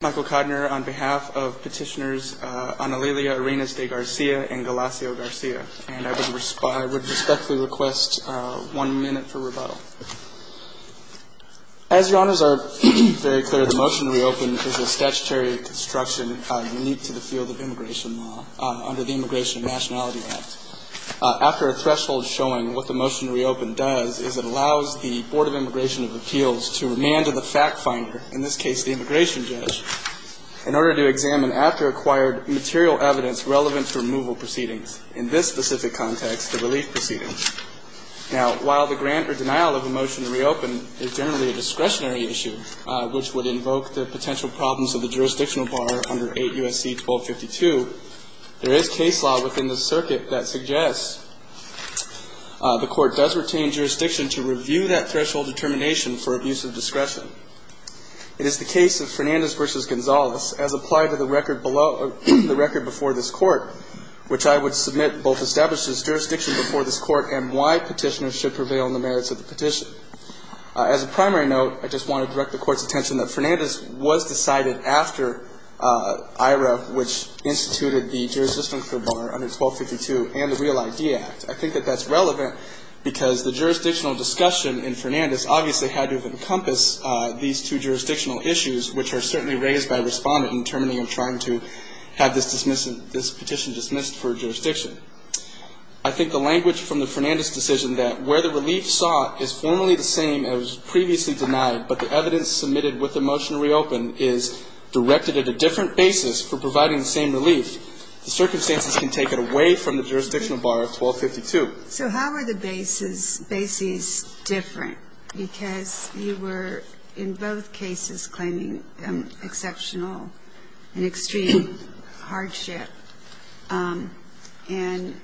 Michael Codner on behalf of petitioners Anelilia Arenas De Garcia and Galacio Garcia. And I would respectfully request one minute for rebuttal. As your honors are very clear, the motion to reopen is a statutory construction unique to the field of immigration law under the Immigration and Nationality Act. After a threshold showing what the motion to reopen does is it allows the Board of Immigration of Appeals to remand to the fact finder, in this case the immigration judge, in order to examine after acquired material evidence relevant to removal proceedings. In this specific context, the relief proceedings. Now, while the grant or denial of a motion to reopen is generally a discretionary issue, which would invoke the potential problems of the jurisdictional bar under 8 U.S.C. 1252, there is case law within the circuit that suggests the court does retain jurisdiction to review that threshold determination for abuse of discretion. It is the case of Fernandez v. Gonzalez as applied to the record before this court, which I would submit both establishes jurisdiction before this court and why petitioners should prevail on the merits of the petition. As a primary note, I just want to direct the court's attention that Fernandez was decided after IHRA, which instituted the jurisdictional bar under 1252 and the Real ID Act. I think that that's relevant because the jurisdictional discussion in Fernandez obviously had to encompass these two jurisdictional issues, which are certainly raised by Respondent in determining and trying to have this petition dismissed for jurisdiction. I think the language from the Fernandez decision that where the relief sought is formally the same as previously denied, but the evidence submitted with the motion to reopen is directed at a different basis for providing the same relief, the circumstances can take it away from the jurisdictional bar of 1252. So how are the bases different? Because you were in both cases claiming exceptional and extreme hardship. And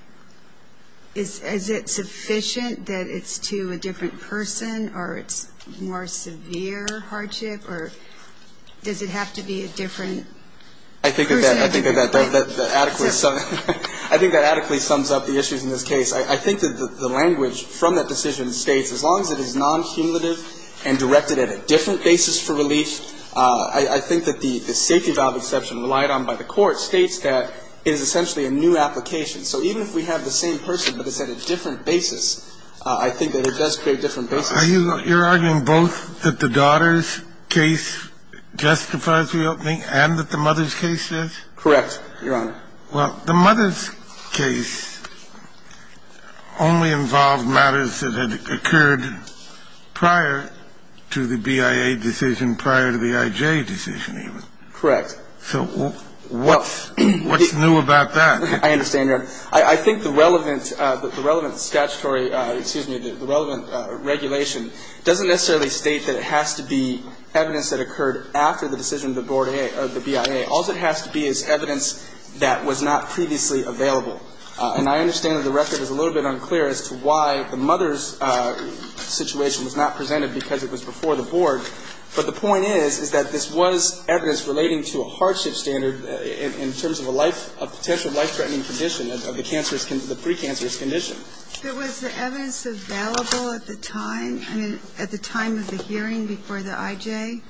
is it sufficient that it's to a different person or it's more severe hardship, or does it have to be a different person? I think that adequately sums up the issues in this case. I think that the language from that decision states as long as it is non-cumulative and directed at a different basis for relief, I think that the safety valve exception relied on by the court states that it is essentially a new application. So even if we have the same person, but it's at a different basis, I think that it does create different bases. Are you arguing both that the daughter's case justifies reopening and that the mother's case is? Correct, Your Honor. Well, the mother's case only involved matters that had occurred prior to the BIA decision, prior to the IJ decision even. Correct. So what's new about that? I understand, Your Honor. I think the relevant statutory, excuse me, the relevant regulation doesn't necessarily state that it has to be evidence that occurred after the decision of the board of the BIA. All that has to be is evidence that was not previously available. And I understand that the record is a little bit unclear as to why the mother's situation was not presented because it was before the board. But the point is, is that this was evidence relating to a hardship standard in terms of a life, a potential life-threatening condition of the cancerous, the precancerous condition. But was the evidence available at the time? I mean, at the time of the hearing before the IJ?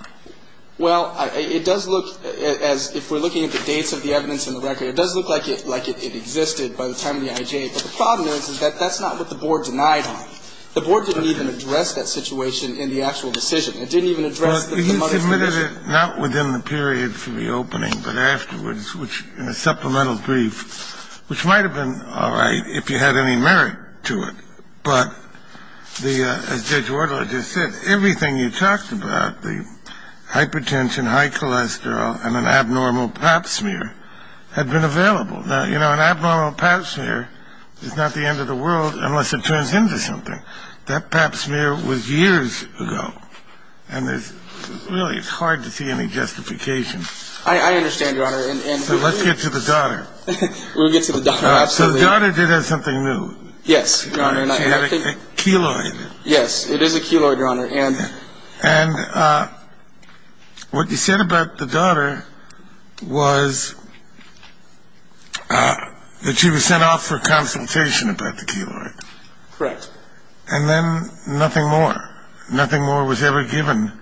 Well, it does look as if we're looking at the dates of the evidence in the record, it does look like it existed by the time of the IJ. But the problem is, is that that's not what the board denied on. The board didn't even address that situation in the actual decision. It didn't even address the mother's condition. But you submitted it not within the period for the opening, but afterwards, in a supplemental brief, which might have been all right if you had any merit to it. But as Judge Wardle just said, everything you talked about, the hypertension, high cholesterol, and an abnormal pap smear, had been available. Now, you know, an abnormal pap smear is not the end of the world unless it turns into something. That pap smear was years ago. And really, it's hard to see any justification. I understand, Your Honor. So let's get to the daughter. We'll get to the daughter, absolutely. So the daughter did have something new. Yes, Your Honor. She had a keloid. Yes, it is a keloid, Your Honor. And what you said about the daughter was that she was sent off for consultation about the keloid. Correct. And then nothing more. Nothing more was ever given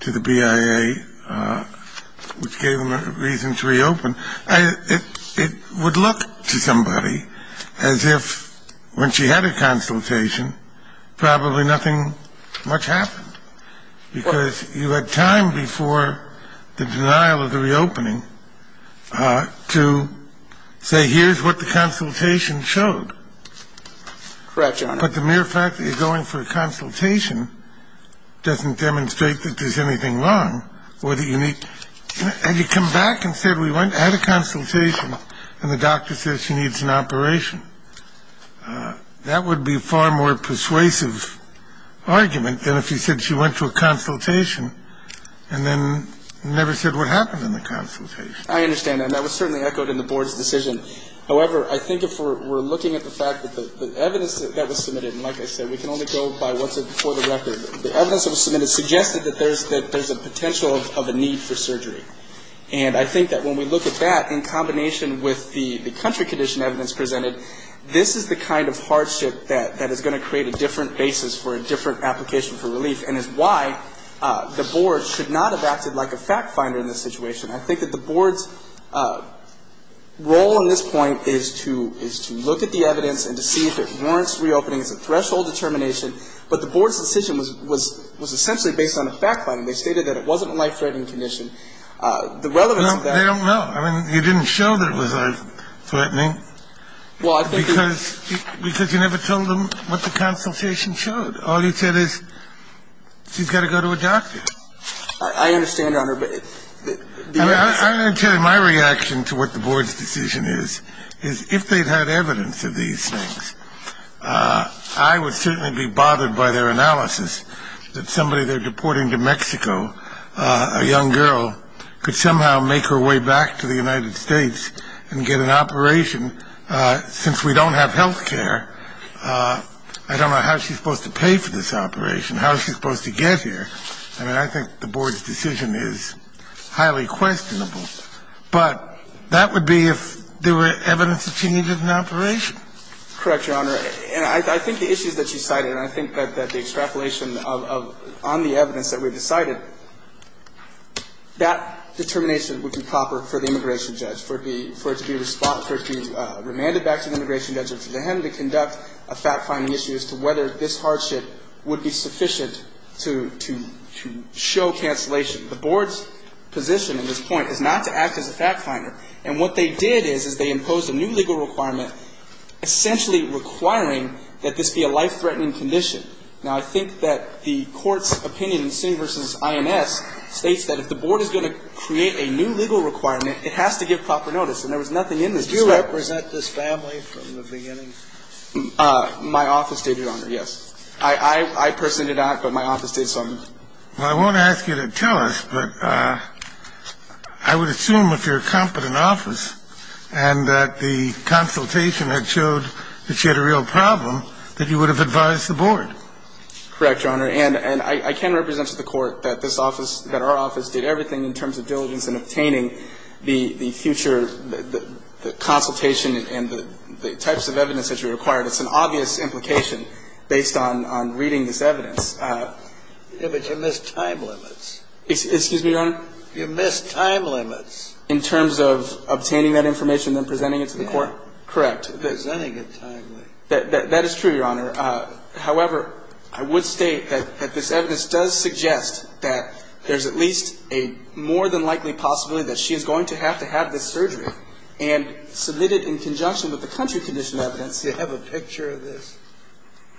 to the BIA, which gave them a reason to reopen. It would look to somebody as if when she had a consultation, probably nothing much happened. Because you had time before the denial of the reopening to say, here's what the consultation showed. Correct, Your Honor. But the mere fact that you're going for a consultation doesn't demonstrate that there's anything wrong. And you come back and said, we went, had a consultation, and the doctor says she needs an operation. That would be a far more persuasive argument than if you said she went to a consultation and then never said what happened in the consultation. I understand. And that was certainly echoed in the Board's decision. However, I think if we're looking at the fact that the evidence that was submitted, and like I said, we can only go by what's before the record. The evidence that was submitted suggested that there's a potential of a need for surgery. And I think that when we look at that in combination with the country condition evidence presented, this is the kind of hardship that is going to create a different basis for a different application for relief and is why the Board should not have acted like a fact finder in this situation. I think that the Board's role in this point is to look at the evidence and to see if it warrants reopening. It's a threshold determination. But the Board's decision was essentially based on a fact finder. They stated that it wasn't a life-threatening condition. The relevance of that was that it was a life-threatening condition. They don't know. I mean, you didn't show that it was life-threatening because you never told them what the consultation showed. All you said is she's got to go to a doctor. I understand, Your Honor. I understand. My reaction to what the Board's decision is, is if they'd had evidence of these things, I would certainly be bothered by their analysis that somebody they're deporting to Mexico, a young girl, could somehow make her way back to the United States and get an operation. Since we don't have health care, I don't know how she's supposed to pay for this operation. How is she supposed to get here? I mean, I think the Board's decision is highly questionable. But that would be if there were evidence that she needed an operation. Correct, Your Honor. And I think the issues that she cited, and I think that the extrapolation on the evidence that we've decided, that determination would be proper for the immigration judge, for it to be responded, for it to be remanded back to the immigration judge or to the HEN to conduct a fact-finding issue as to whether this hardship would be sufficient to show cancellation. The Board's position in this point is not to act as a fact-finder. And what they did is, is they imposed a new legal requirement, essentially requiring that this be a life-threatening condition. Now, I think that the Court's opinion in City v. INS states that if the Board is going to create a new legal requirement, it has to give proper notice. And there was nothing in this. Did you represent this family from the beginning? My office did, Your Honor, yes. I personally did not, but my office did so. Well, I won't ask you to tell us, but I would assume if you're a competent office and that the consultation had showed that you had a real problem, that you would have advised the Board. Correct, Your Honor. And I can represent to the Court that this office, that our office did everything in terms of diligence in obtaining the future consultation and the types of evidence that you required. It's an obvious implication based on reading this evidence. Yeah, but you missed time limits. Excuse me, Your Honor? You missed time limits. In terms of obtaining that information and then presenting it to the Court? Yeah. Correct. Presenting it timely. That is true, Your Honor. However, I would state that this evidence does suggest that there's at least a more than likely possibility that she is going to have to have this surgery and submit it in conjunction with the country condition evidence. Do you have a picture of this?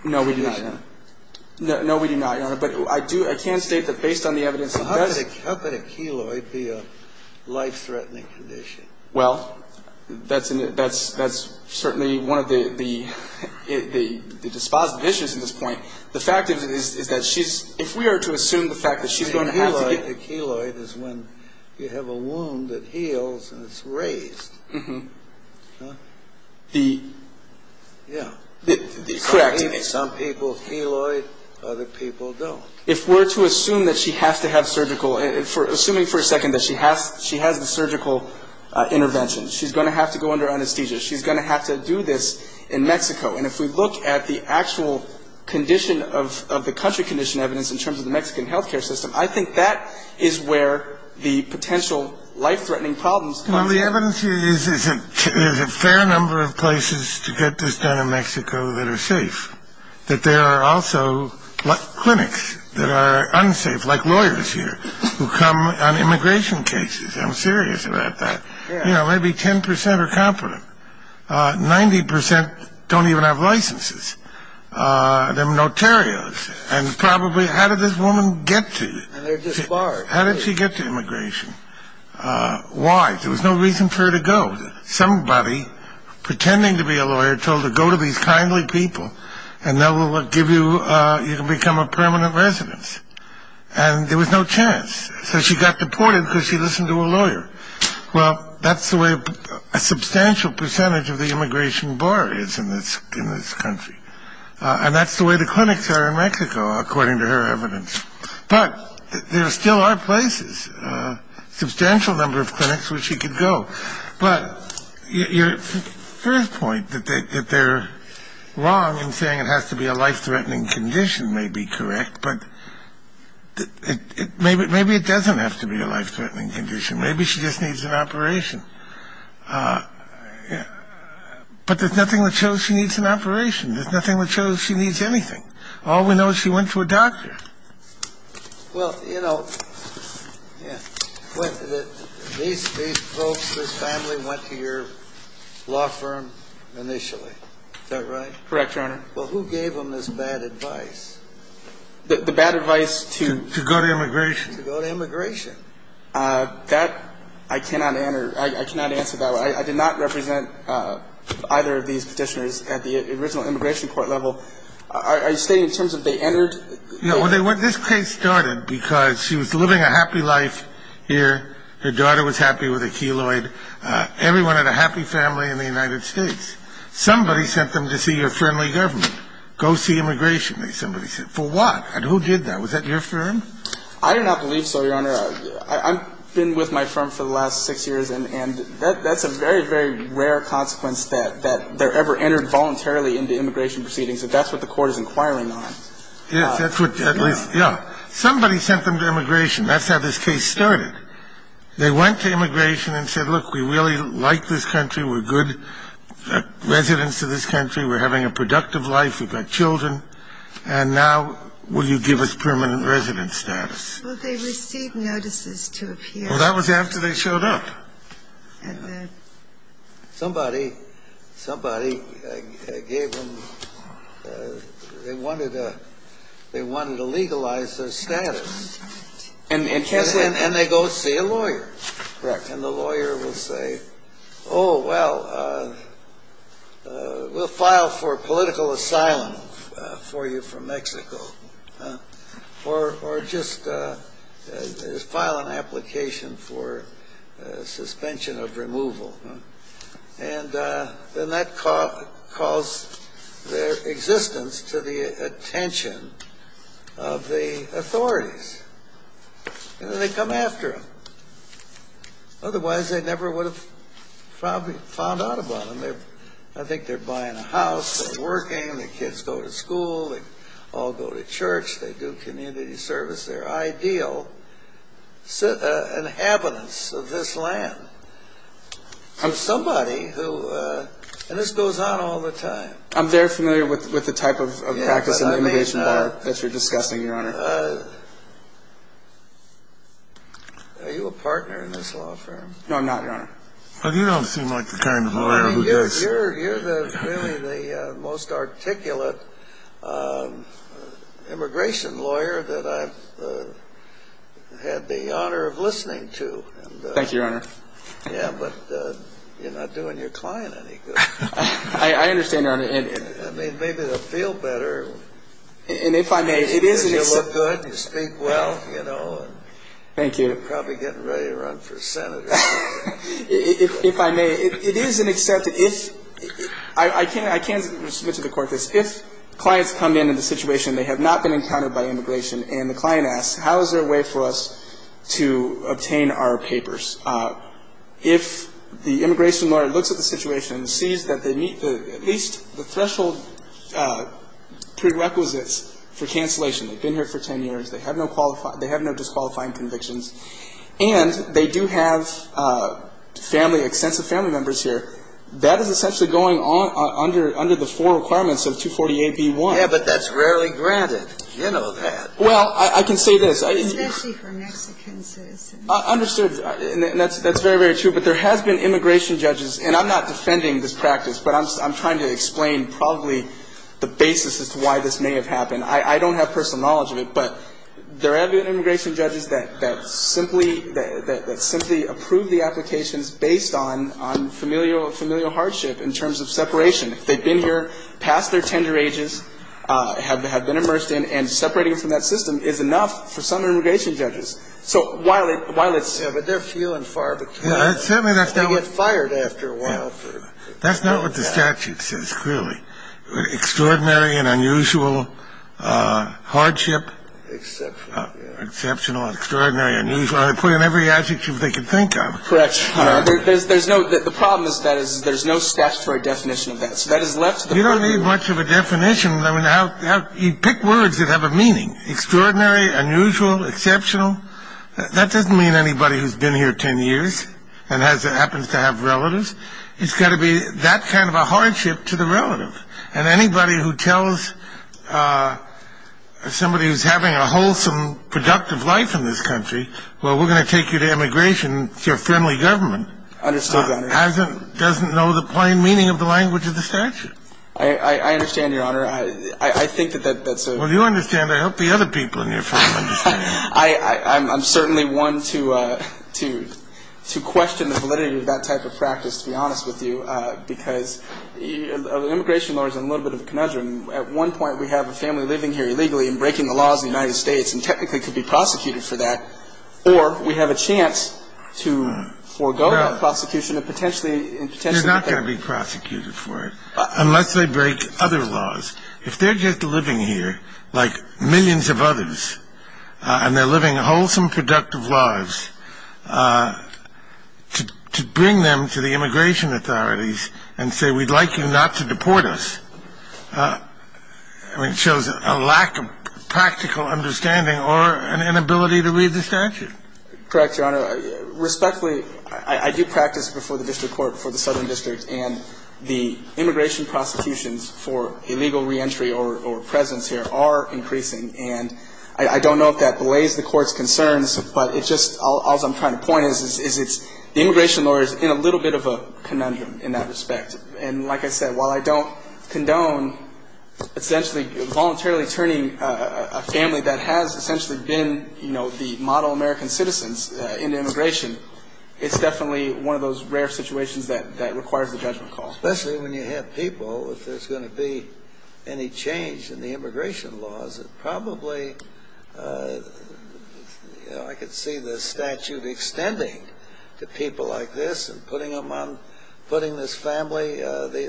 No, we do not, Your Honor. No, we do not, Your Honor. But I do, I can state that based on the evidence that does... How could a keloid be a life-threatening condition? Well, that's certainly one of the dispositive issues at this point. The fact is that she's, if we are to assume the fact that she's going to have to get... A keloid is when you have a wound that heals and it's raised. Uh-huh. The... Yeah. Correct. Some people have a keloid, other people don't. If we're to assume that she has to have surgical, assuming for a second that she has the surgical intervention, she's going to have to go under anesthesia, she's going to have to do this in Mexico. And if we look at the actual condition of the country condition evidence in terms of the Mexican health care system, I think that is where the potential life-threatening problems come in. Well, the evidence here is there's a fair number of places to get this done in Mexico that are safe. That there are also clinics that are unsafe, like lawyers here, who come on immigration cases. I'm serious about that. Yeah. You know, maybe 10% are competent. 90% don't even have licenses. They're notarios. And probably, how did this woman get to... And they're just barred. How did she get to immigration? Why? There was no reason for her to go. Somebody, pretending to be a lawyer, told her, go to these kindly people, and they will give you... You can become a permanent residence. And there was no chance. So she got deported because she listened to a lawyer. Well, that's the way a substantial percentage of the immigration bar is in this country. And that's the way the clinics are in Mexico, according to her evidence. But there still are places, a substantial number of clinics where she could go. But your first point, that they're wrong in saying it has to be a life-threatening condition, may be correct. But maybe it doesn't have to be a life-threatening condition. Maybe she just needs an operation. But there's nothing that shows she needs an operation. There's nothing that shows she needs anything. All we know is she went to a doctor. Well, you know, yeah. These folks, this family, went to your law firm initially. Is that right? Correct, Your Honor. Well, who gave them this bad advice? The bad advice to... To go to immigration. To go to immigration. That I cannot answer that way. I did not represent either of these Petitioners at the original immigration court level. Are you stating in terms of they entered... Well, this case started because she was living a happy life here. Her daughter was happy with a keloid. Everyone had a happy family in the United States. Somebody sent them to see your friendly government. Go see immigration, somebody said. For what? And who did that? Was that your firm? I do not believe so, Your Honor. I've been with my firm for the last six years. And that's a very, very rare consequence that they're ever entered voluntarily into immigration proceedings. And that's what the court is inquiring on. Yes, that's what, at least, yeah. Somebody sent them to immigration. That's how this case started. They went to immigration and said, look, we really like this country. We're good residents of this country. We're having a productive life. We've got children. And now will you give us permanent resident status? Well, they received notices to appear. Well, that was after they showed up. Somebody gave them, they wanted to legalize their status. And they go see a lawyer. Correct. And the lawyer will say, oh, well, we'll file for political asylum for you from Mexico. Or just file an application for suspension of removal. And then that calls their existence to the attention of the authorities. And then they come after them. Otherwise, they never would have found out about them. I think they're buying a house. They're working. The kids go to school. They all go to church. They do community service. They're ideal inhabitants of this land. And this goes on all the time. I'm very familiar with the type of practice in immigration law that you're discussing, Your Honor. Are you a partner in this law firm? No, I'm not, Your Honor. You don't seem like the kind of lawyer who does. You're really the most articulate immigration lawyer that I've had the honor of listening to. Thank you, Your Honor. Yeah, but you're not doing your client any good. I understand, Your Honor. I mean, maybe they'll feel better. And if I may, it is an acceptance. You look good. You speak well, you know. Thank you. You're probably getting ready to run for senator. If I may, it is an acceptance. I can submit to the court this. If clients come in in the situation they have not been encountered by immigration and the client asks, how is there a way for us to obtain our papers? If the immigration lawyer looks at the situation and sees that they meet at least the threshold prerequisites for cancellation, they've been here for 10 years, they have no disqualifying convictions, and they do have family, extensive family members here, that is essentially going under the four requirements of 248b-1. Yeah, but that's rarely granted. You know that. Well, I can say this. Especially for Mexican citizens. Understood. And that's very, very true. But there has been immigration judges, and I'm not defending this practice, but I'm trying to explain probably the basis as to why this may have happened. I don't have personal knowledge of it, but there have been immigration judges that simply approve the applications based on familial hardship in terms of separation. They've been here past their tender ages, have been immersed in, and separating from that system is enough for some immigration judges. So while it's ‑‑ Yeah, but they're few and far between. They get fired after a while. That's not what the statute says, clearly. Extraordinary and unusual hardship. Exceptional. Exceptional, extraordinary, unusual. They put in every adjective they can think of. Correct. There's no ‑‑ the problem with that is there's no statutory definition of that. You don't need much of a definition. I mean, you pick words that have a meaning. Extraordinary, unusual, exceptional. That doesn't mean anybody who's been here 10 years and happens to have relatives. It's got to be that kind of a hardship to the relative. And anybody who tells somebody who's having a wholesome, productive life in this country, well, we're going to take you to immigration. It's your family government. Understood, Your Honor. Doesn't know the plain meaning of the language of the statute. I understand, Your Honor. I think that that's a ‑‑ Well, you understand. I hope the other people in your family understand. I'm certainly one to question the validity of that type of practice, to be honest with you, because immigration law is a little bit of a conundrum. At one point we have a family living here illegally and breaking the laws of the United States and technically could be prosecuted for that. Or we have a chance to forego that prosecution and potentially ‑‑ They're not going to be prosecuted for it unless they break other laws. If they're just living here like millions of others and they're living wholesome, productive lives, to bring them to the immigration authorities and say, we'd like you not to deport us shows a lack of practical understanding or an inability to read the statute. Correct, Your Honor. Respectfully, I do practice before the district court, before the southern district, and the immigration prosecutions for illegal reentry or presence here are increasing. And I don't know if that belays the court's concerns, but it's just all I'm trying to point is the immigration law is in a little bit of a conundrum in that respect. And like I said, while I don't condone essentially voluntarily turning a family that has essentially been, you know, the model American citizens into immigration, it's definitely one of those rare situations that requires the judgment call. Especially when you have people, if there's going to be any change in the immigration laws, it probably, you know, I could see the statute extending to people like this and putting them on, putting this family,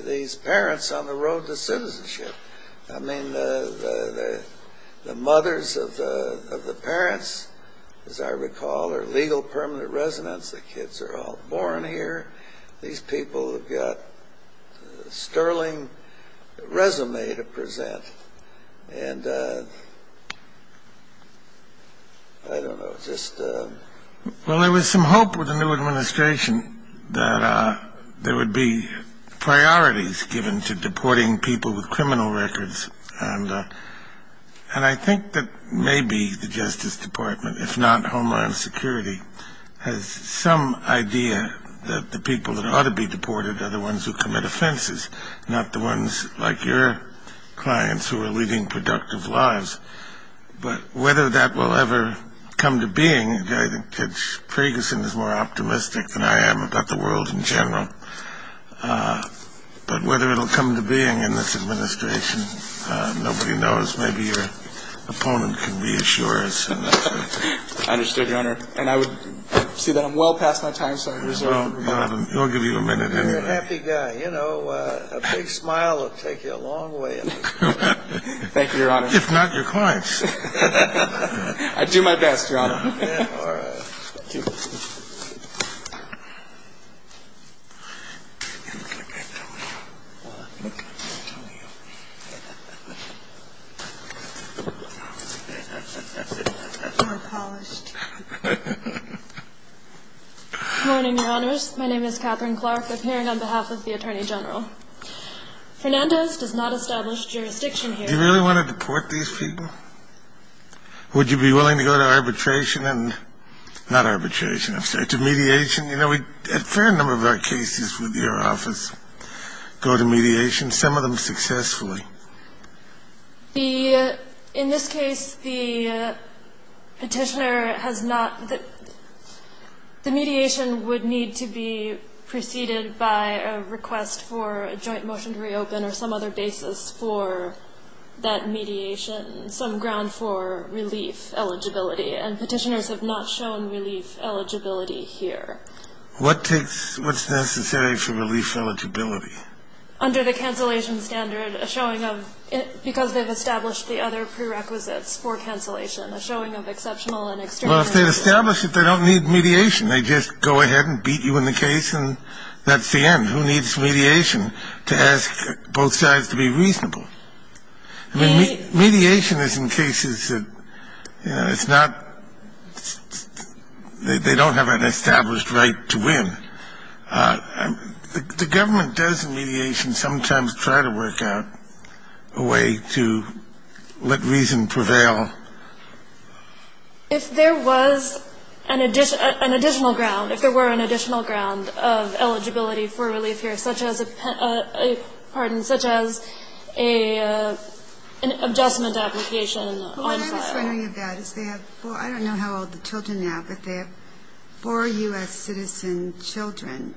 these parents on the road to citizenship. I mean, the mothers of the parents, as I recall, are legal permanent residents. The kids are all born here. These people have got a sterling resume to present. And I don't know, just... Well, there was some hope with the new administration that there would be priorities given to deporting people with criminal records. And I think that maybe the Justice Department, if not Homeland Security, has some idea that the people that ought to be deported are the ones who commit offenses, not the ones like your clients who are leading productive lives. But whether that will ever come to being, I think Ted Ferguson is more optimistic than I am about the world in general. But whether it will come to being in this administration, nobody knows. Maybe your opponent can be as sure as... I understood, Your Honor. And I would see that I'm well past my time, so I resort... We'll give you a minute anyway. I'm a happy guy. You know, a big smile will take you a long way. Thank you, Your Honor. If not your clients. I do my best, Your Honor. Good morning, Your Honors. My name is Catherine Clark, appearing on behalf of the Attorney General. Fernandez does not establish jurisdiction here. Do you really want to deport these people? Would you be willing to go to arbitration and – not arbitration, I'm sorry – to mediation? You know, a fair number of our cases with your office go to mediation, some of them successfully. The – in this case, the Petitioner has not – the mediation would need to be preceded by a request for a joint motion to reopen or some other basis for that mediation, some ground for relief eligibility. And Petitioners have not shown relief eligibility here. What takes – what's necessary for relief eligibility? Under the cancellation standard, a showing of – because they've established the other prerequisites for cancellation, a showing of exceptional and extreme... Well, if they've established it, they don't need mediation. They just go ahead and beat you in the case and that's the end. Who needs mediation to ask both sides to be reasonable? I mean, mediation is in cases that, you know, it's not – they don't have an established right to win. The government does in mediation sometimes try to work out a way to let reason prevail. If there was an additional ground, if there were an additional ground of eligibility for relief here, such as a – pardon – such as an adjustment application on file. Well, what I'm just wondering about is they have four – I don't know how old the children are now, but they have four U.S. citizen children.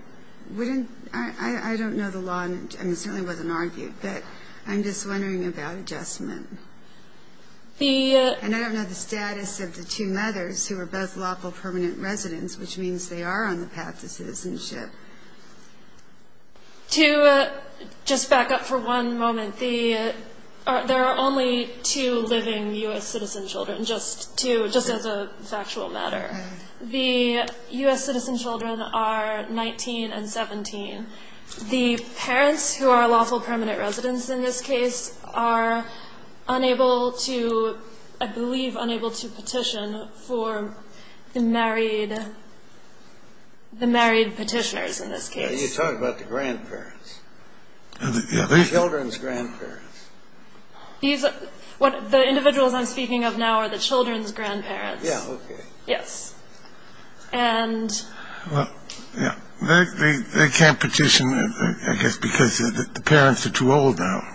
Wouldn't – I don't know the law, and it certainly wasn't argued, but I'm just wondering about adjustment. The... And I don't know the status of the two mothers who are both lawful permanent residents, which means they are on the path to citizenship. To just back up for one moment, the – there are only two living U.S. citizen children, just two, just as a factual matter. The U.S. citizen children are 19 and 17. The parents who are lawful permanent residents in this case are unable to – I believe unable to petition for the married – the married petitioners in this case. You're talking about the grandparents. The children's grandparents. These – the individuals I'm speaking of now are the children's grandparents. Yeah, okay. Yes. And... Well, yeah. They can't petition, I guess, because the parents are too old now.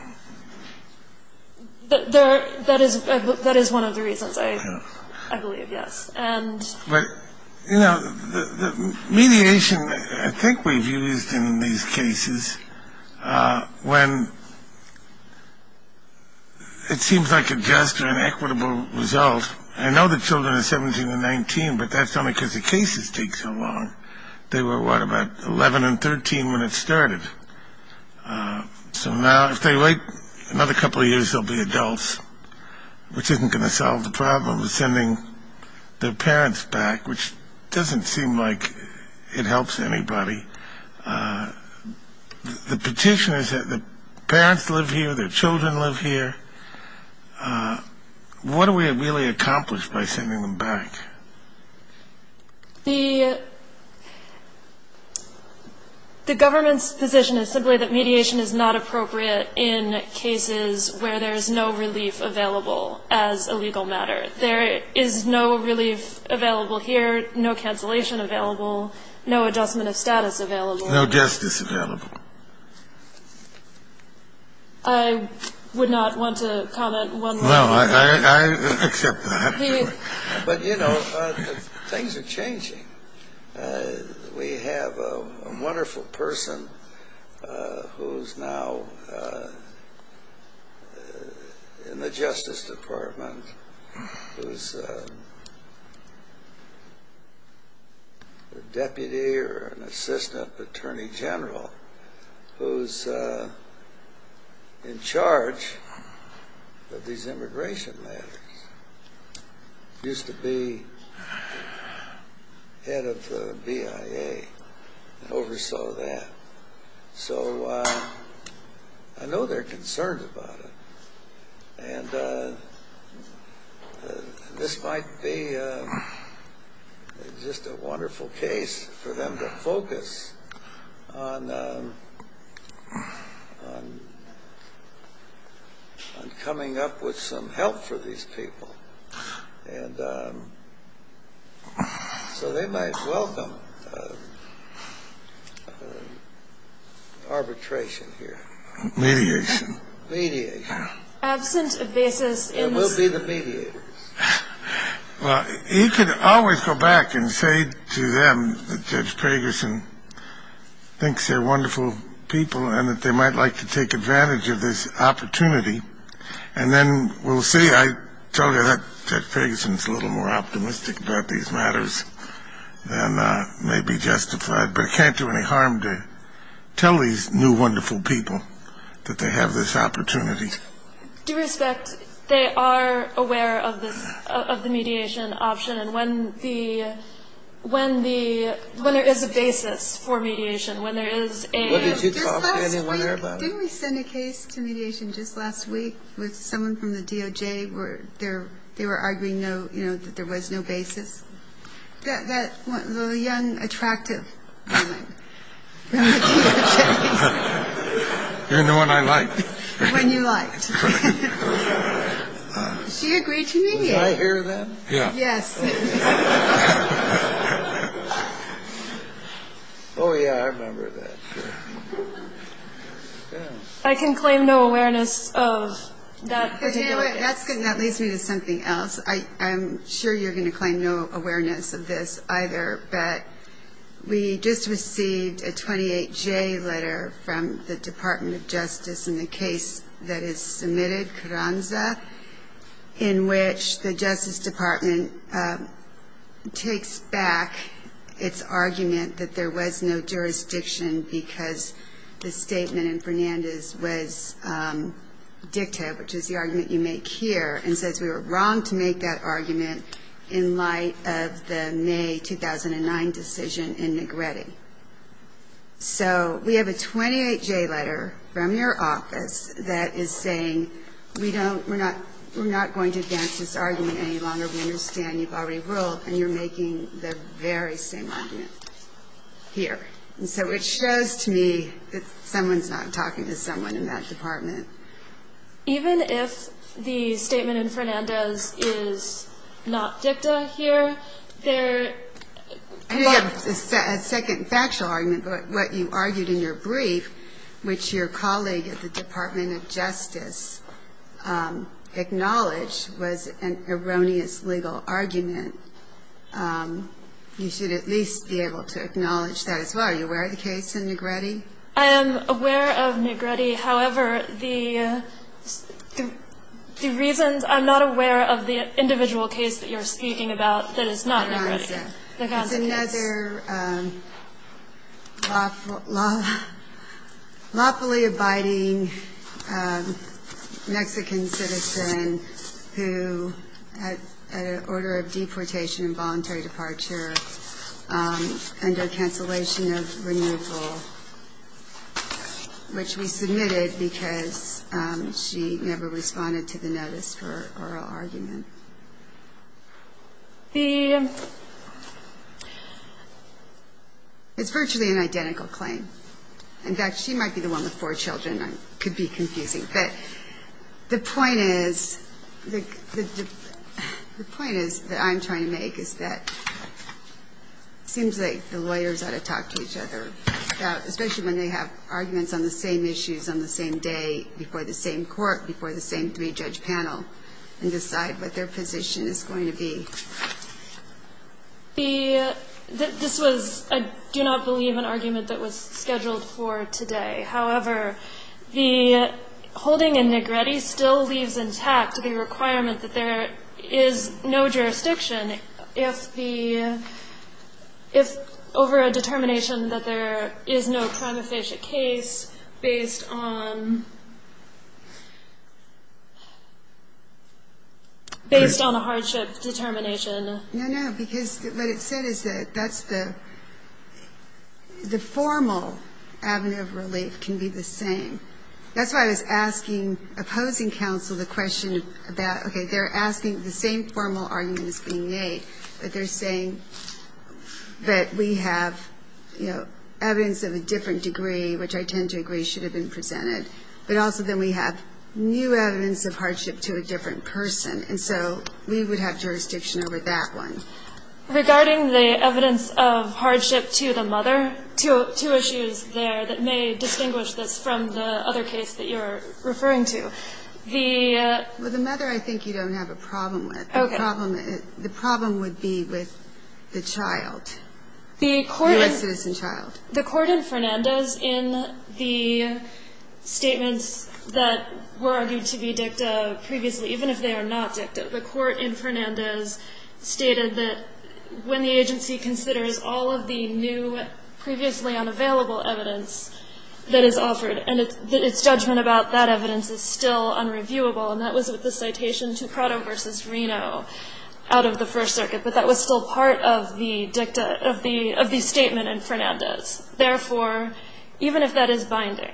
That is one of the reasons, I believe, yes. And... But, you know, the mediation I think we've used in these cases, when it seems like a just or an equitable result. I know the children are 17 and 19, but that's only because the cases take so long. They were, what, about 11 and 13 when it started. So now if they wait another couple of years, they'll be adults, which isn't going to solve the problem of sending their parents back, which doesn't seem like it helps anybody. The petitioners – the parents live here, their children live here. What do we really accomplish by sending them back? The government's position is simply that mediation is not appropriate in cases where there's no relief available as a legal matter. There is no relief available here, no cancellation available, no adjustment of status available. No justice available. I would not want to comment one more time. No, I accept that. But, you know, things are changing. We have a wonderful person who's now in the Justice Department who's a deputy or an assistant attorney general who's in charge of these immigration matters. Used to be head of the BIA and oversaw that. So I know they're concerned about it. And this might be just a wonderful case for them to focus on coming up with some help for these people. And so they might welcome arbitration here. Mediation. Mediation. Absent versus in. And we'll be the mediators. Well, you could always go back and say to them that Judge Pegersen thinks they're wonderful people and that they might like to take advantage of this opportunity. And then we'll see. I tell you that Judge Pegersen's a little more optimistic about these matters than may be justified. But I can't do any harm to tell these new wonderful people that they have this opportunity. Due respect, they are aware of this, of the mediation option. And when the, when there is a basis for mediation, when there is a... Didn't we send a case to mediation just last week with someone from the DOJ where they were arguing, you know, that there was no basis? That young, attractive woman from the DOJ. You're the one I liked. The one you liked. She agreed to mediate. Did I hear that? Yeah. Yes. Oh, yeah, I remember that. I can claim no awareness of that particular case. That leads me to something else. I'm sure you're going to claim no awareness of this either, but we just received a 28-J letter from the Department of Justice in the case that is submitted, Carranza, in which the Justice Department takes back its argument that there was no jurisdiction because the statement in Fernandez was dicta, which is the argument you make here, and says we were wrong to make that argument in light of the May 2009 decision in Negretti. So we have a 28-J letter from your office that is saying we don't, we're not going to advance this argument any longer. We understand you've already ruled and you're making the very same argument here. And so it shows to me that someone's not talking to someone in that department. Even if the statement in Fernandez is not dicta here, there are a lot of other I didn't have a second factual argument, but what you argued in your brief, which your colleague at the Department of Justice acknowledged, was an erroneous legal argument. You should at least be able to acknowledge that as well. Are you aware of the case in Negretti? I am aware of Negretti. However, the reasons, I'm not aware of the individual case that you're speaking about that is not Negretti. It's another lawfully abiding Mexican citizen who, at an order of deportation and voluntary departure, under cancellation of renewal, which we submitted because she never responded to the notice for oral argument. It's virtually an identical claim. In fact, she might be the one with four children. It could be confusing. But the point is, that I'm trying to make is that it seems like the lawyers ought to talk to each other, especially when they have arguments on the same issues on the same day before the same court, before the same three-judge panel, and decide what their position is going to be. This was, I do not believe, an argument that was scheduled for today. However, the holding in Negretti still leaves intact the requirement that there is no jurisdiction if the, if over a determination that there is no crime-officiate case based on, based on a hardship determination. No, no. Because what it said is that that's the, the formal avenue of relief can be the same. That's why I was asking, opposing counsel the question about, okay, they're asking the same formal arguments being made, but they're saying that we have, you know, evidence of a different degree, which I tend to agree should have been presented. But also then we have new evidence of hardship to a different person. And so we would have jurisdiction over that one. Regarding the evidence of hardship to the mother, two issues there that may distinguish this from the other case that you're referring to. The. Well, the mother I think you don't have a problem with. Okay. The problem, the problem would be with the child. The court. The U.S. citizen child. The court in Fernandez in the statements that were argued to be dicta previously, even if they are not dicta, the court in Fernandez stated that when the agency considers all of the new previously unavailable evidence that is offered and its judgment about that evidence is still unreviewable. And that was with the citation to Prado versus Reno out of the First Circuit. But that was still part of the dicta of the, of the statement in Fernandez. Therefore, even if that is binding,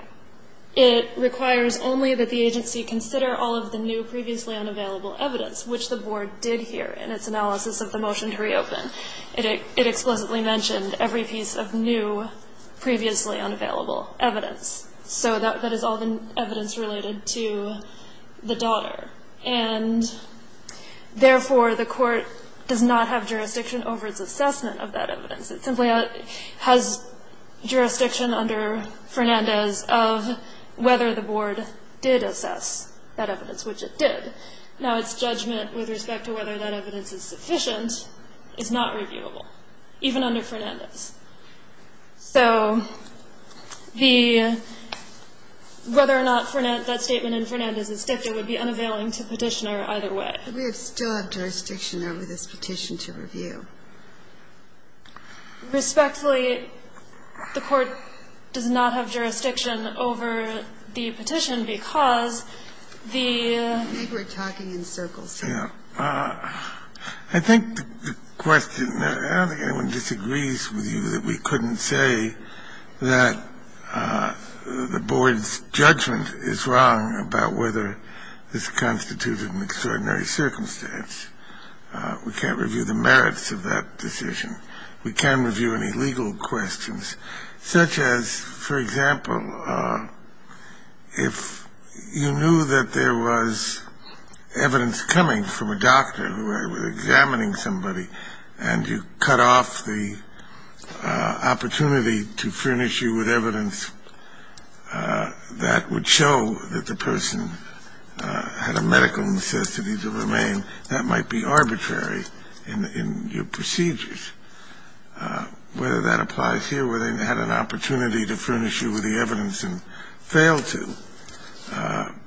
it requires only that the agency consider all of the new previously unavailable evidence, which the board did here in its analysis of the motion to reopen it, it explicitly mentioned every piece of new previously unavailable evidence. So that, that is all the evidence related to the daughter. And therefore the court does not have jurisdiction over its assessment of that evidence. It simply has jurisdiction under Fernandez of whether the board did assess that evidence, which it did. Now, its judgment with respect to whether that evidence is sufficient is not reviewable, even under Fernandez. So the, whether or not that statement in Fernandez is dicta would be unavailing to Petitioner either way. We still have jurisdiction over this petition to review. Respectfully, the court does not have jurisdiction over the petition because of the, I think we're talking in circles. Yeah. I think the question, I don't think anyone disagrees with you that we couldn't say that the board's judgment is wrong about whether this constituted an extraordinary circumstance. We can't review the merits of that decision. We can't review any legal questions, such as, for example, if you knew that there was evidence coming from a doctor who was examining somebody and you cut off the opportunity to furnish you with evidence that would show that the person had a medical necessity to remain, that might be arbitrary in your procedures. Whether that applies here, where they had an opportunity to furnish you with the evidence and failed to,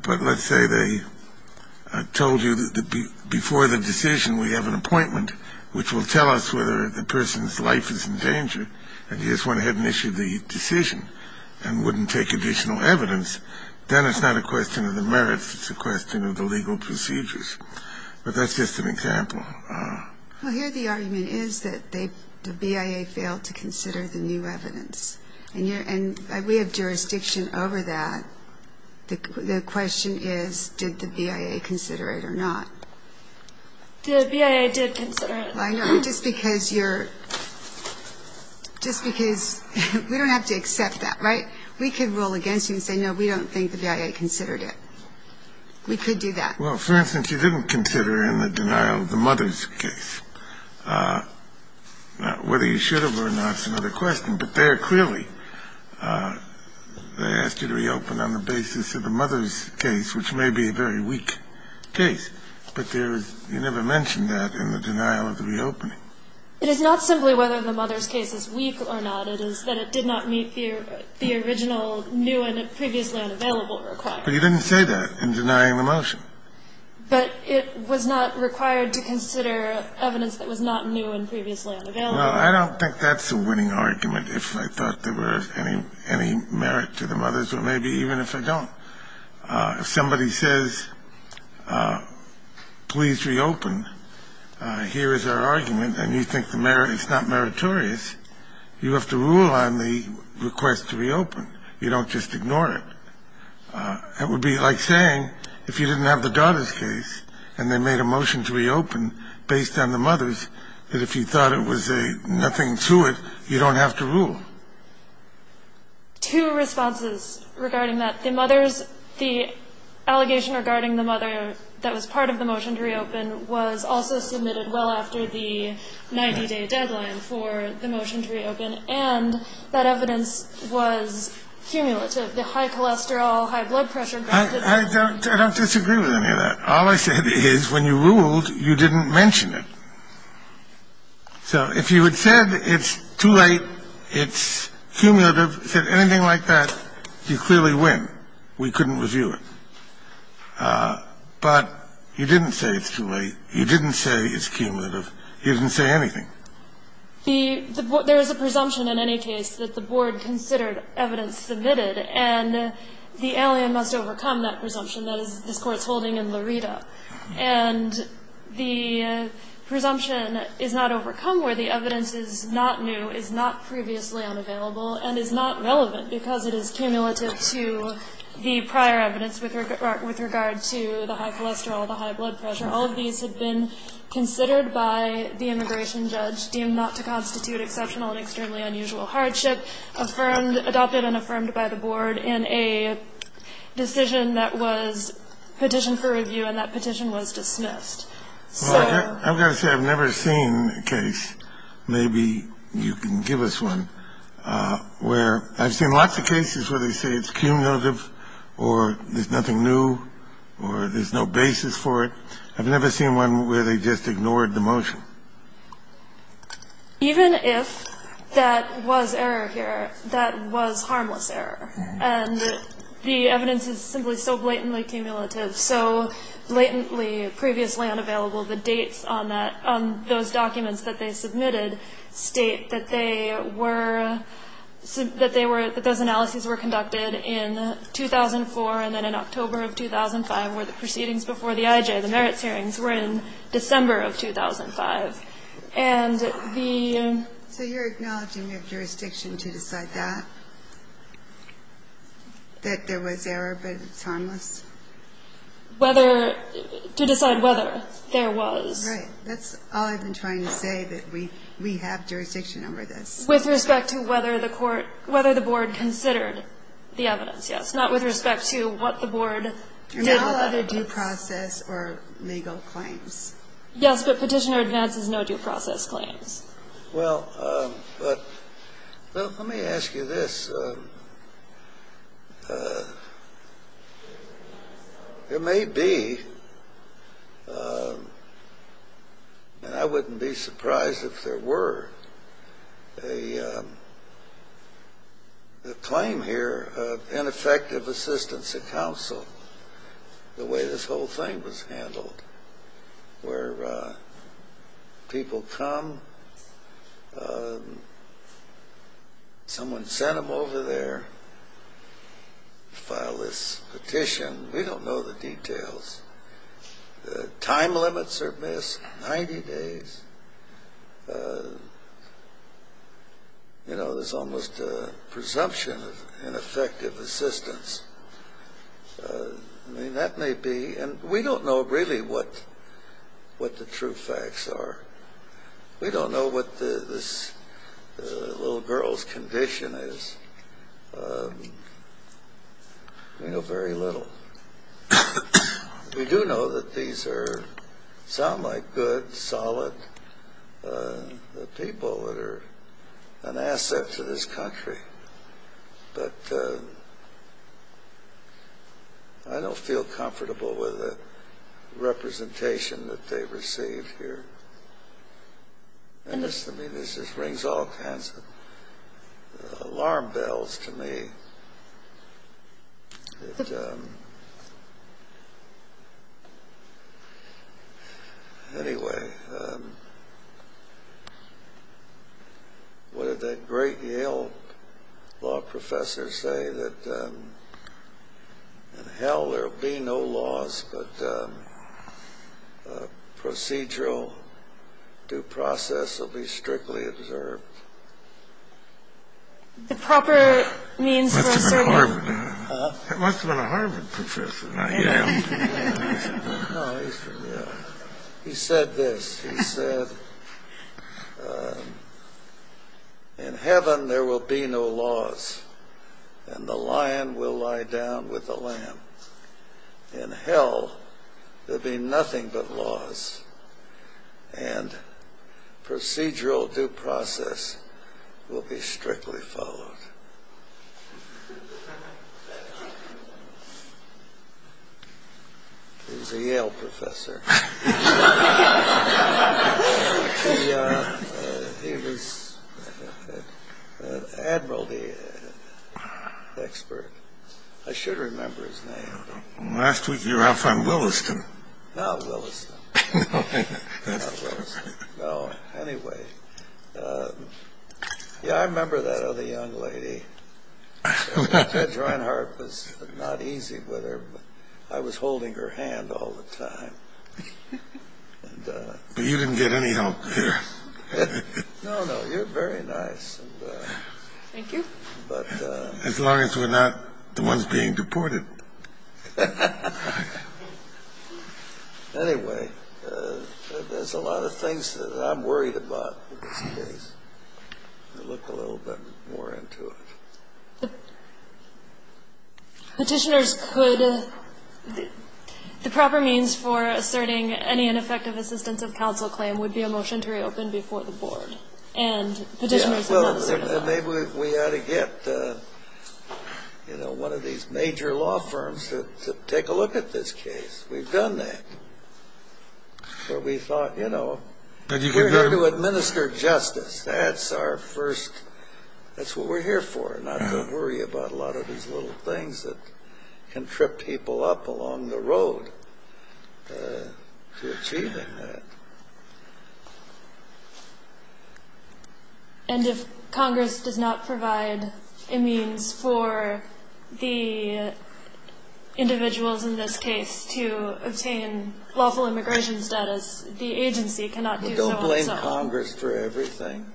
but let's say they told you that before the decision we have an appointment which will tell us whether the person's life is in danger and you just went ahead and issued the decision and wouldn't take additional evidence, then it's not a question of the merits, it's a question of the legal necessity to continue the procedure. So we can't say that the board's judgment is wrong, but we can't review any legal somebody and you cut off the opportunity to furnish you with evidence that would show that the person had a medical necessity to remain, that might be arbitrary in your procedures. But that's just an example. Kennedy, for instance, you didn't consider in the denial of the mother's case whether you should have or not is another question, but there clearly they asked you to reopen on the basis of the mother's case, which may be a very weak case, but there is you never mentioned that in the denial of the reopening. It is not simply whether the mother's case is weak or not. I don't think that's a winning argument if I thought there were any merit to the mothers, or maybe even if I don't. If somebody says, please reopen, here is our argument, and you think the merit is not meritorious, you have to rule out the possibility that the mother's case is weak or not. So you don't have to rule on the request to reopen. You don't just ignore it. It would be like saying if you didn't have the daughter's case and they made a motion to reopen based on the mother's, that if you thought it was a nothing to it, you don't have to rule. Two responses regarding that. The mother's, the allegation regarding the mother that was part of the motion to reopen was also submitted well after the 90-day deadline for the motion to reopen, and that evidence was cumulative. The high cholesterol, high blood pressure. I don't disagree with any of that. All I said is when you ruled, you didn't mention it. So if you had said it's too late, it's cumulative, said anything like that, you clearly win. We couldn't review it. But you didn't say it's too late. You didn't say it's cumulative. You didn't say anything. There is a presumption in any case that the board considered evidence submitted, and the alien must overcome that presumption. That is this Court's holding in Laredo. And the presumption is not overcome where the evidence is not new, is not previously unavailable, and is not relevant because it is cumulative to the prior evidence with regard to the high cholesterol, the high blood pressure. All of these have been considered by the immigration judge, deemed not to constitute exceptional and extremely unusual hardship, adopted and affirmed by the board in a decision that was petitioned for review, and that petition was dismissed. So... I've got to say, I've never seen a case, maybe you can give us one, where I've seen lots of cases where they say it's cumulative, or there's nothing new, or there's no basis for it. I've never seen one where they just ignored the motion. Even if that was error here, that was harmless error. And the evidence is simply so blatantly cumulative, so blatantly previously unavailable, the dates on that, on those documents that they submitted state that they were, that they were, that those analyses were conducted in 2004, and then in October of 2005, where the proceedings before the IJ, the merits hearings, were in December of 2005. And the... So you're acknowledging you have jurisdiction to decide that? That there was error, but it's harmless? Whether, to decide whether there was. Right. That's all I've been trying to say, that we have jurisdiction over this. With respect to whether the court, whether the board considered the evidence, yes. Not with respect to what the board did, whether it did. No due process or legal claims. Yes, but Petitioner advances no due process claims. Well, but let me ask you this. There may be, and I wouldn't be surprised if there were, a claim here of ineffective assistance of counsel, the way this whole thing was handled, where people come, someone sent them over there, file this petition. We don't know the details. The time limits are missed, 90 days. You know, there's almost a presumption of ineffective assistance. I mean, that may be, and we don't know really what, what the true facts are. We don't know what this little girl's condition is. We know very little. We do know that these are, sound like good, solid people that are an asset to this country. But I don't feel comfortable with the representation that they received here. And this, to me, this just rings all kinds of alarm bells to me. Anyway, what did that great Yale law professor say, that in hell there will be no laws, but procedural due process will be strictly observed? The proper means for a certain... Must have been a Harvard. It must have been a Harvard professor, not Yale. No, he said this. He said, in heaven there will be no laws, and the lion will lie down with the lamb. In hell, there'll be nothing but laws, and procedural due process will be strictly followed. He was a Yale professor. He was an admiralty expert. I should remember his name. Last week you were out front Williston. Not Williston. Not Williston. No, anyway. Yeah, I remember that other young lady. That joint heart was not easy with her. I was holding her hand all the time. But you didn't get any help here. No, no, you're very nice. Thank you. As long as we're not the ones being deported. Anyway, there's a lot of things that I'm worried about in this case. I look a little bit more into it. Petitioners could... The proper means for asserting any ineffective assistance of counsel claim would be a motion to reopen before the board, and petitioners would not assert that. Maybe we ought to get one of these major law firms to take a look at this case. We've done that. But we thought, you know, we're here to administer justice. That's our first... That's what we're here for, not to worry about a lot of these little things that can trip people up along the road to achieving that. And if Congress does not provide a means for the individuals in this case to obtain lawful immigration status, the agency cannot do so itself. Don't blame Congress for everything.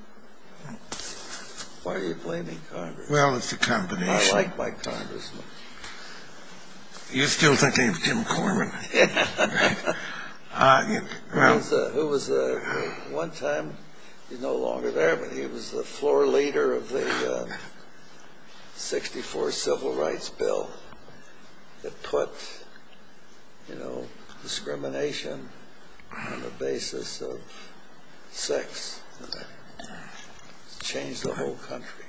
Why are you blaming Congress? Well, it's a combination. I like my Congressmen. You're still thinking of Jim Corman. Yeah. Who was the... One time, he's no longer there, but he was the floor leader of the 64 Civil Rights Bill that put, you know, discrimination on the basis of sex. It changed the whole country.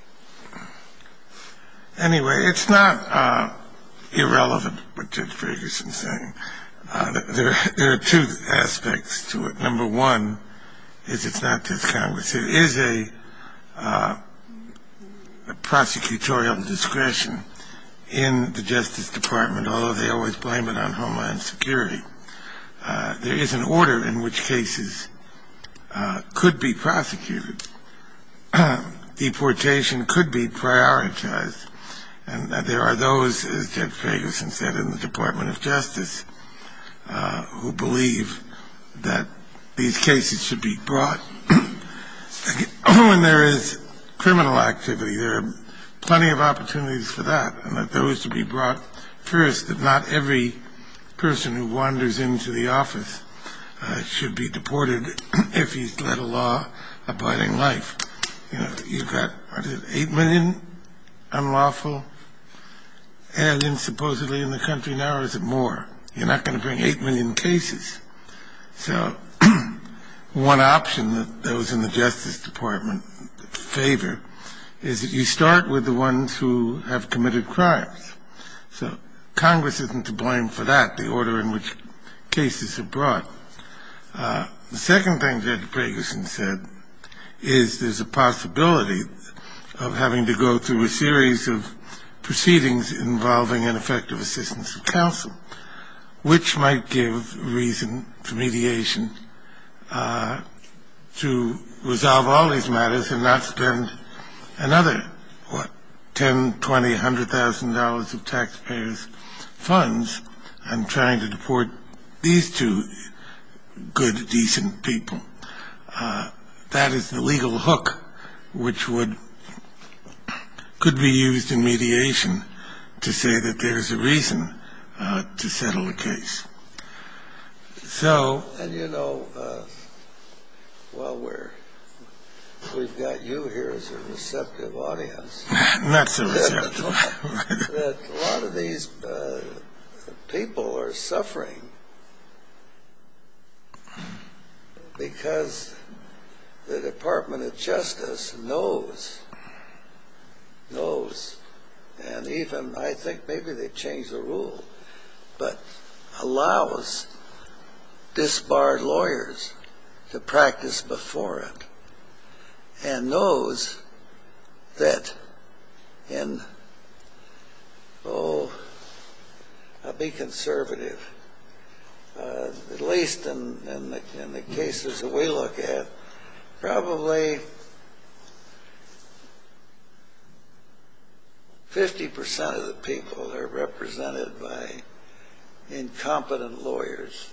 Anyway, it's not irrelevant what Judge Ferguson's saying. There are two aspects to it. Number one is it's not just Congress. There is a prosecutorial discretion in the Justice Department, although they always blame it on Homeland Security. There is an order in which cases could be prosecuted. Deportation could be prioritized. And there are those, as Judge Ferguson said, in the Department of Justice who believe that these cases should be brought. When there is criminal activity, there are plenty of opportunities for that, and that those should be brought first, that not every person who wanders into the office should be deported if he's led a law-abiding life. You've got, what is it, 8 million unlawful aliens supposedly in the country. Now, is it more? You're not going to bring 8 million cases. So one option that those in the Justice Department favor is that you start with the ones who have committed crimes. So Congress isn't to blame for that, the order in which cases are brought. The second thing Judge Ferguson said is there's a possibility of having to go through a series of proceedings involving ineffective assistance of counsel, which might give reason for mediation to resolve all these matters and not spend another $10,000, $20,000, $100,000 of taxpayers' funds on trying to deport these two good, decent people. That is the legal hook which could be used in mediation to say that there's a reason to settle a case. So... And you know, well, we've got you here as a receptive audience. Not so receptive. A lot of these people are suffering because the Department of Justice knows, knows, and even I think maybe they've changed the rule, but allows disbarred lawyers to practice before it. And knows that in... Oh, I'll be conservative. At least in the cases that we look at, probably 50% of the people are represented by incompetent lawyers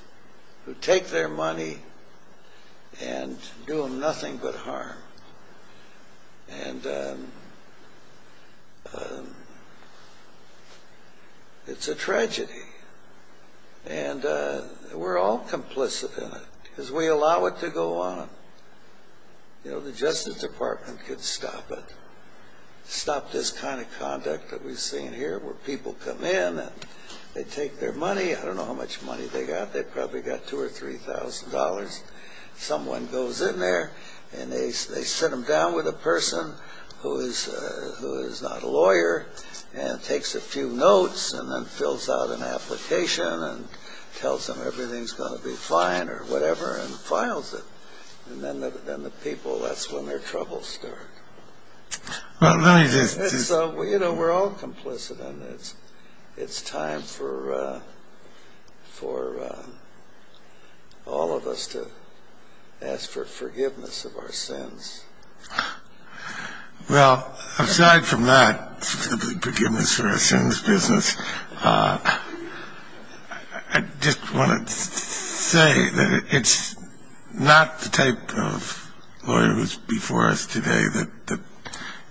who take their money and do them nothing but harm. And we're all complicit in it because we allow it to go on. You know, the Justice Department could stop it. Stop this kind of conduct that we've seen here, where people come in and they take their money. I don't know how much money they got. They probably got $2,000 or $3,000. Someone goes in there and they sit them down with a person who is not a lawyer and takes a few notes and then fills out an application and tells them everything's going to be fine or whatever and files it. And then the people, that's when their troubles start. Well, really this is... You know, we're all complicit in this. It's time for all of us to ask for forgiveness of our sins. Well, aside from that, forgiveness of our sins business, I just want to say that it's not the type of lawyers before us today that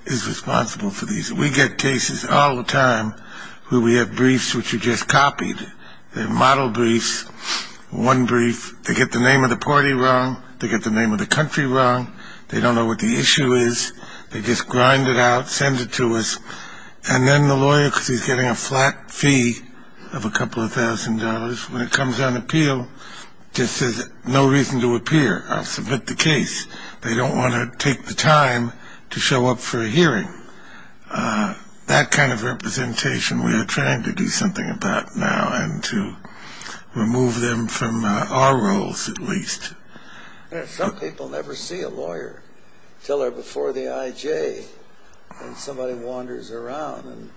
is responsible for these. We get cases all the time where we have briefs which are just copied. They're model briefs, one brief. They get the name of the party wrong. They get the name of the country wrong. They don't know what the issue is. They just grind it out, send it to us. And then the lawyer, because he's getting a flat fee of a couple of thousand dollars, when it comes on appeal, just says, no reason to appear. I'll submit the case. They don't want to take the time to show up for a hearing. That kind of representation we are trying to do something about now and to remove them from our roles at least. Some people never see a lawyer until they're before the IJ and somebody wanders around and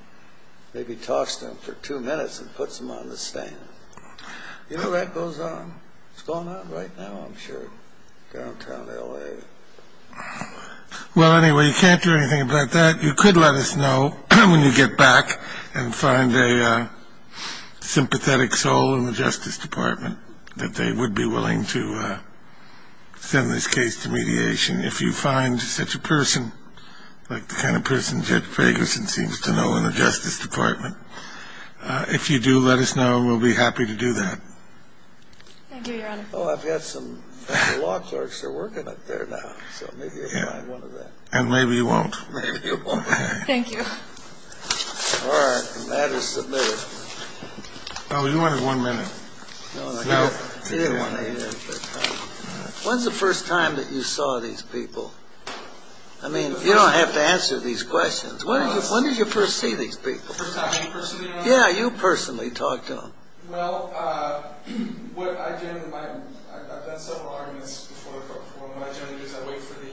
maybe talks to them for two minutes and puts them on the stand. You know that goes on? It's going on right now, I'm sure, downtown L.A. Well, anyway, you can't do anything about that. You could let us know when you get back and find a sympathetic soul in the Justice Department that they would be willing to send this case to mediation. If you find such a person like the kind of person Judge Fagerson seems to know in the Justice Department, if you do, let us know and we'll be happy to do that. Thank you, Your Honor. Oh, I've got some law clerks that are working up there now. So maybe they'll find one of them. And maybe you won't. Maybe you won't. Thank you. All right. And that is submitted. Oh, you wanted one minute. No. When's the first time that you saw these people? I mean, you don't have to answer these questions. When did you first see these people? Yeah, you personally talked to them. Well, what I generally do is I wait for the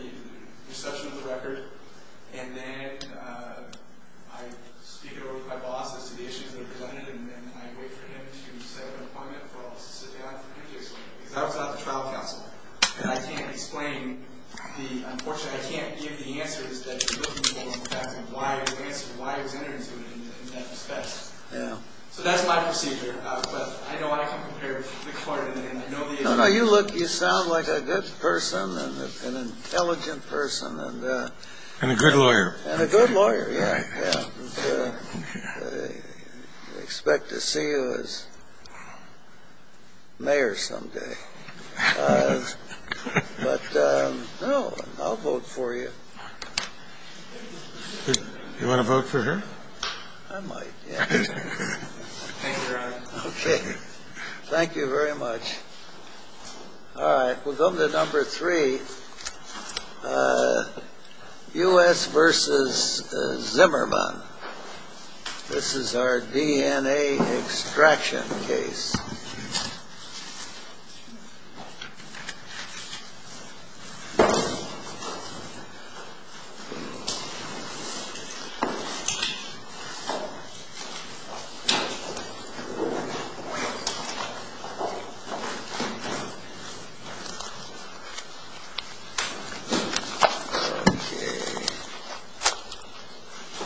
reception of the record and then I speak it over with my boss as to the issues that are presented and then I wait for him to set up an appointment for us to sit down for previous work. Because I was on the trial counsel and I can't explain the unfortunately I can't give the answers that you're looking for in fact and why I was entered into it in that respect. Yeah. So that's my procedure. But I know I can compare the court and then I know the attorney. No, no, you look, you sound like a good person and an intelligent person. And a good lawyer. And a good lawyer, yeah. Yeah. I expect to see you as mayor someday. But, no, I'll vote for you. You want to vote for her? I might, yeah. Okay. Thank you very much. All right, we'll go to number three. U.S. versus Zimmerman. This is our DNA extraction case. Okay.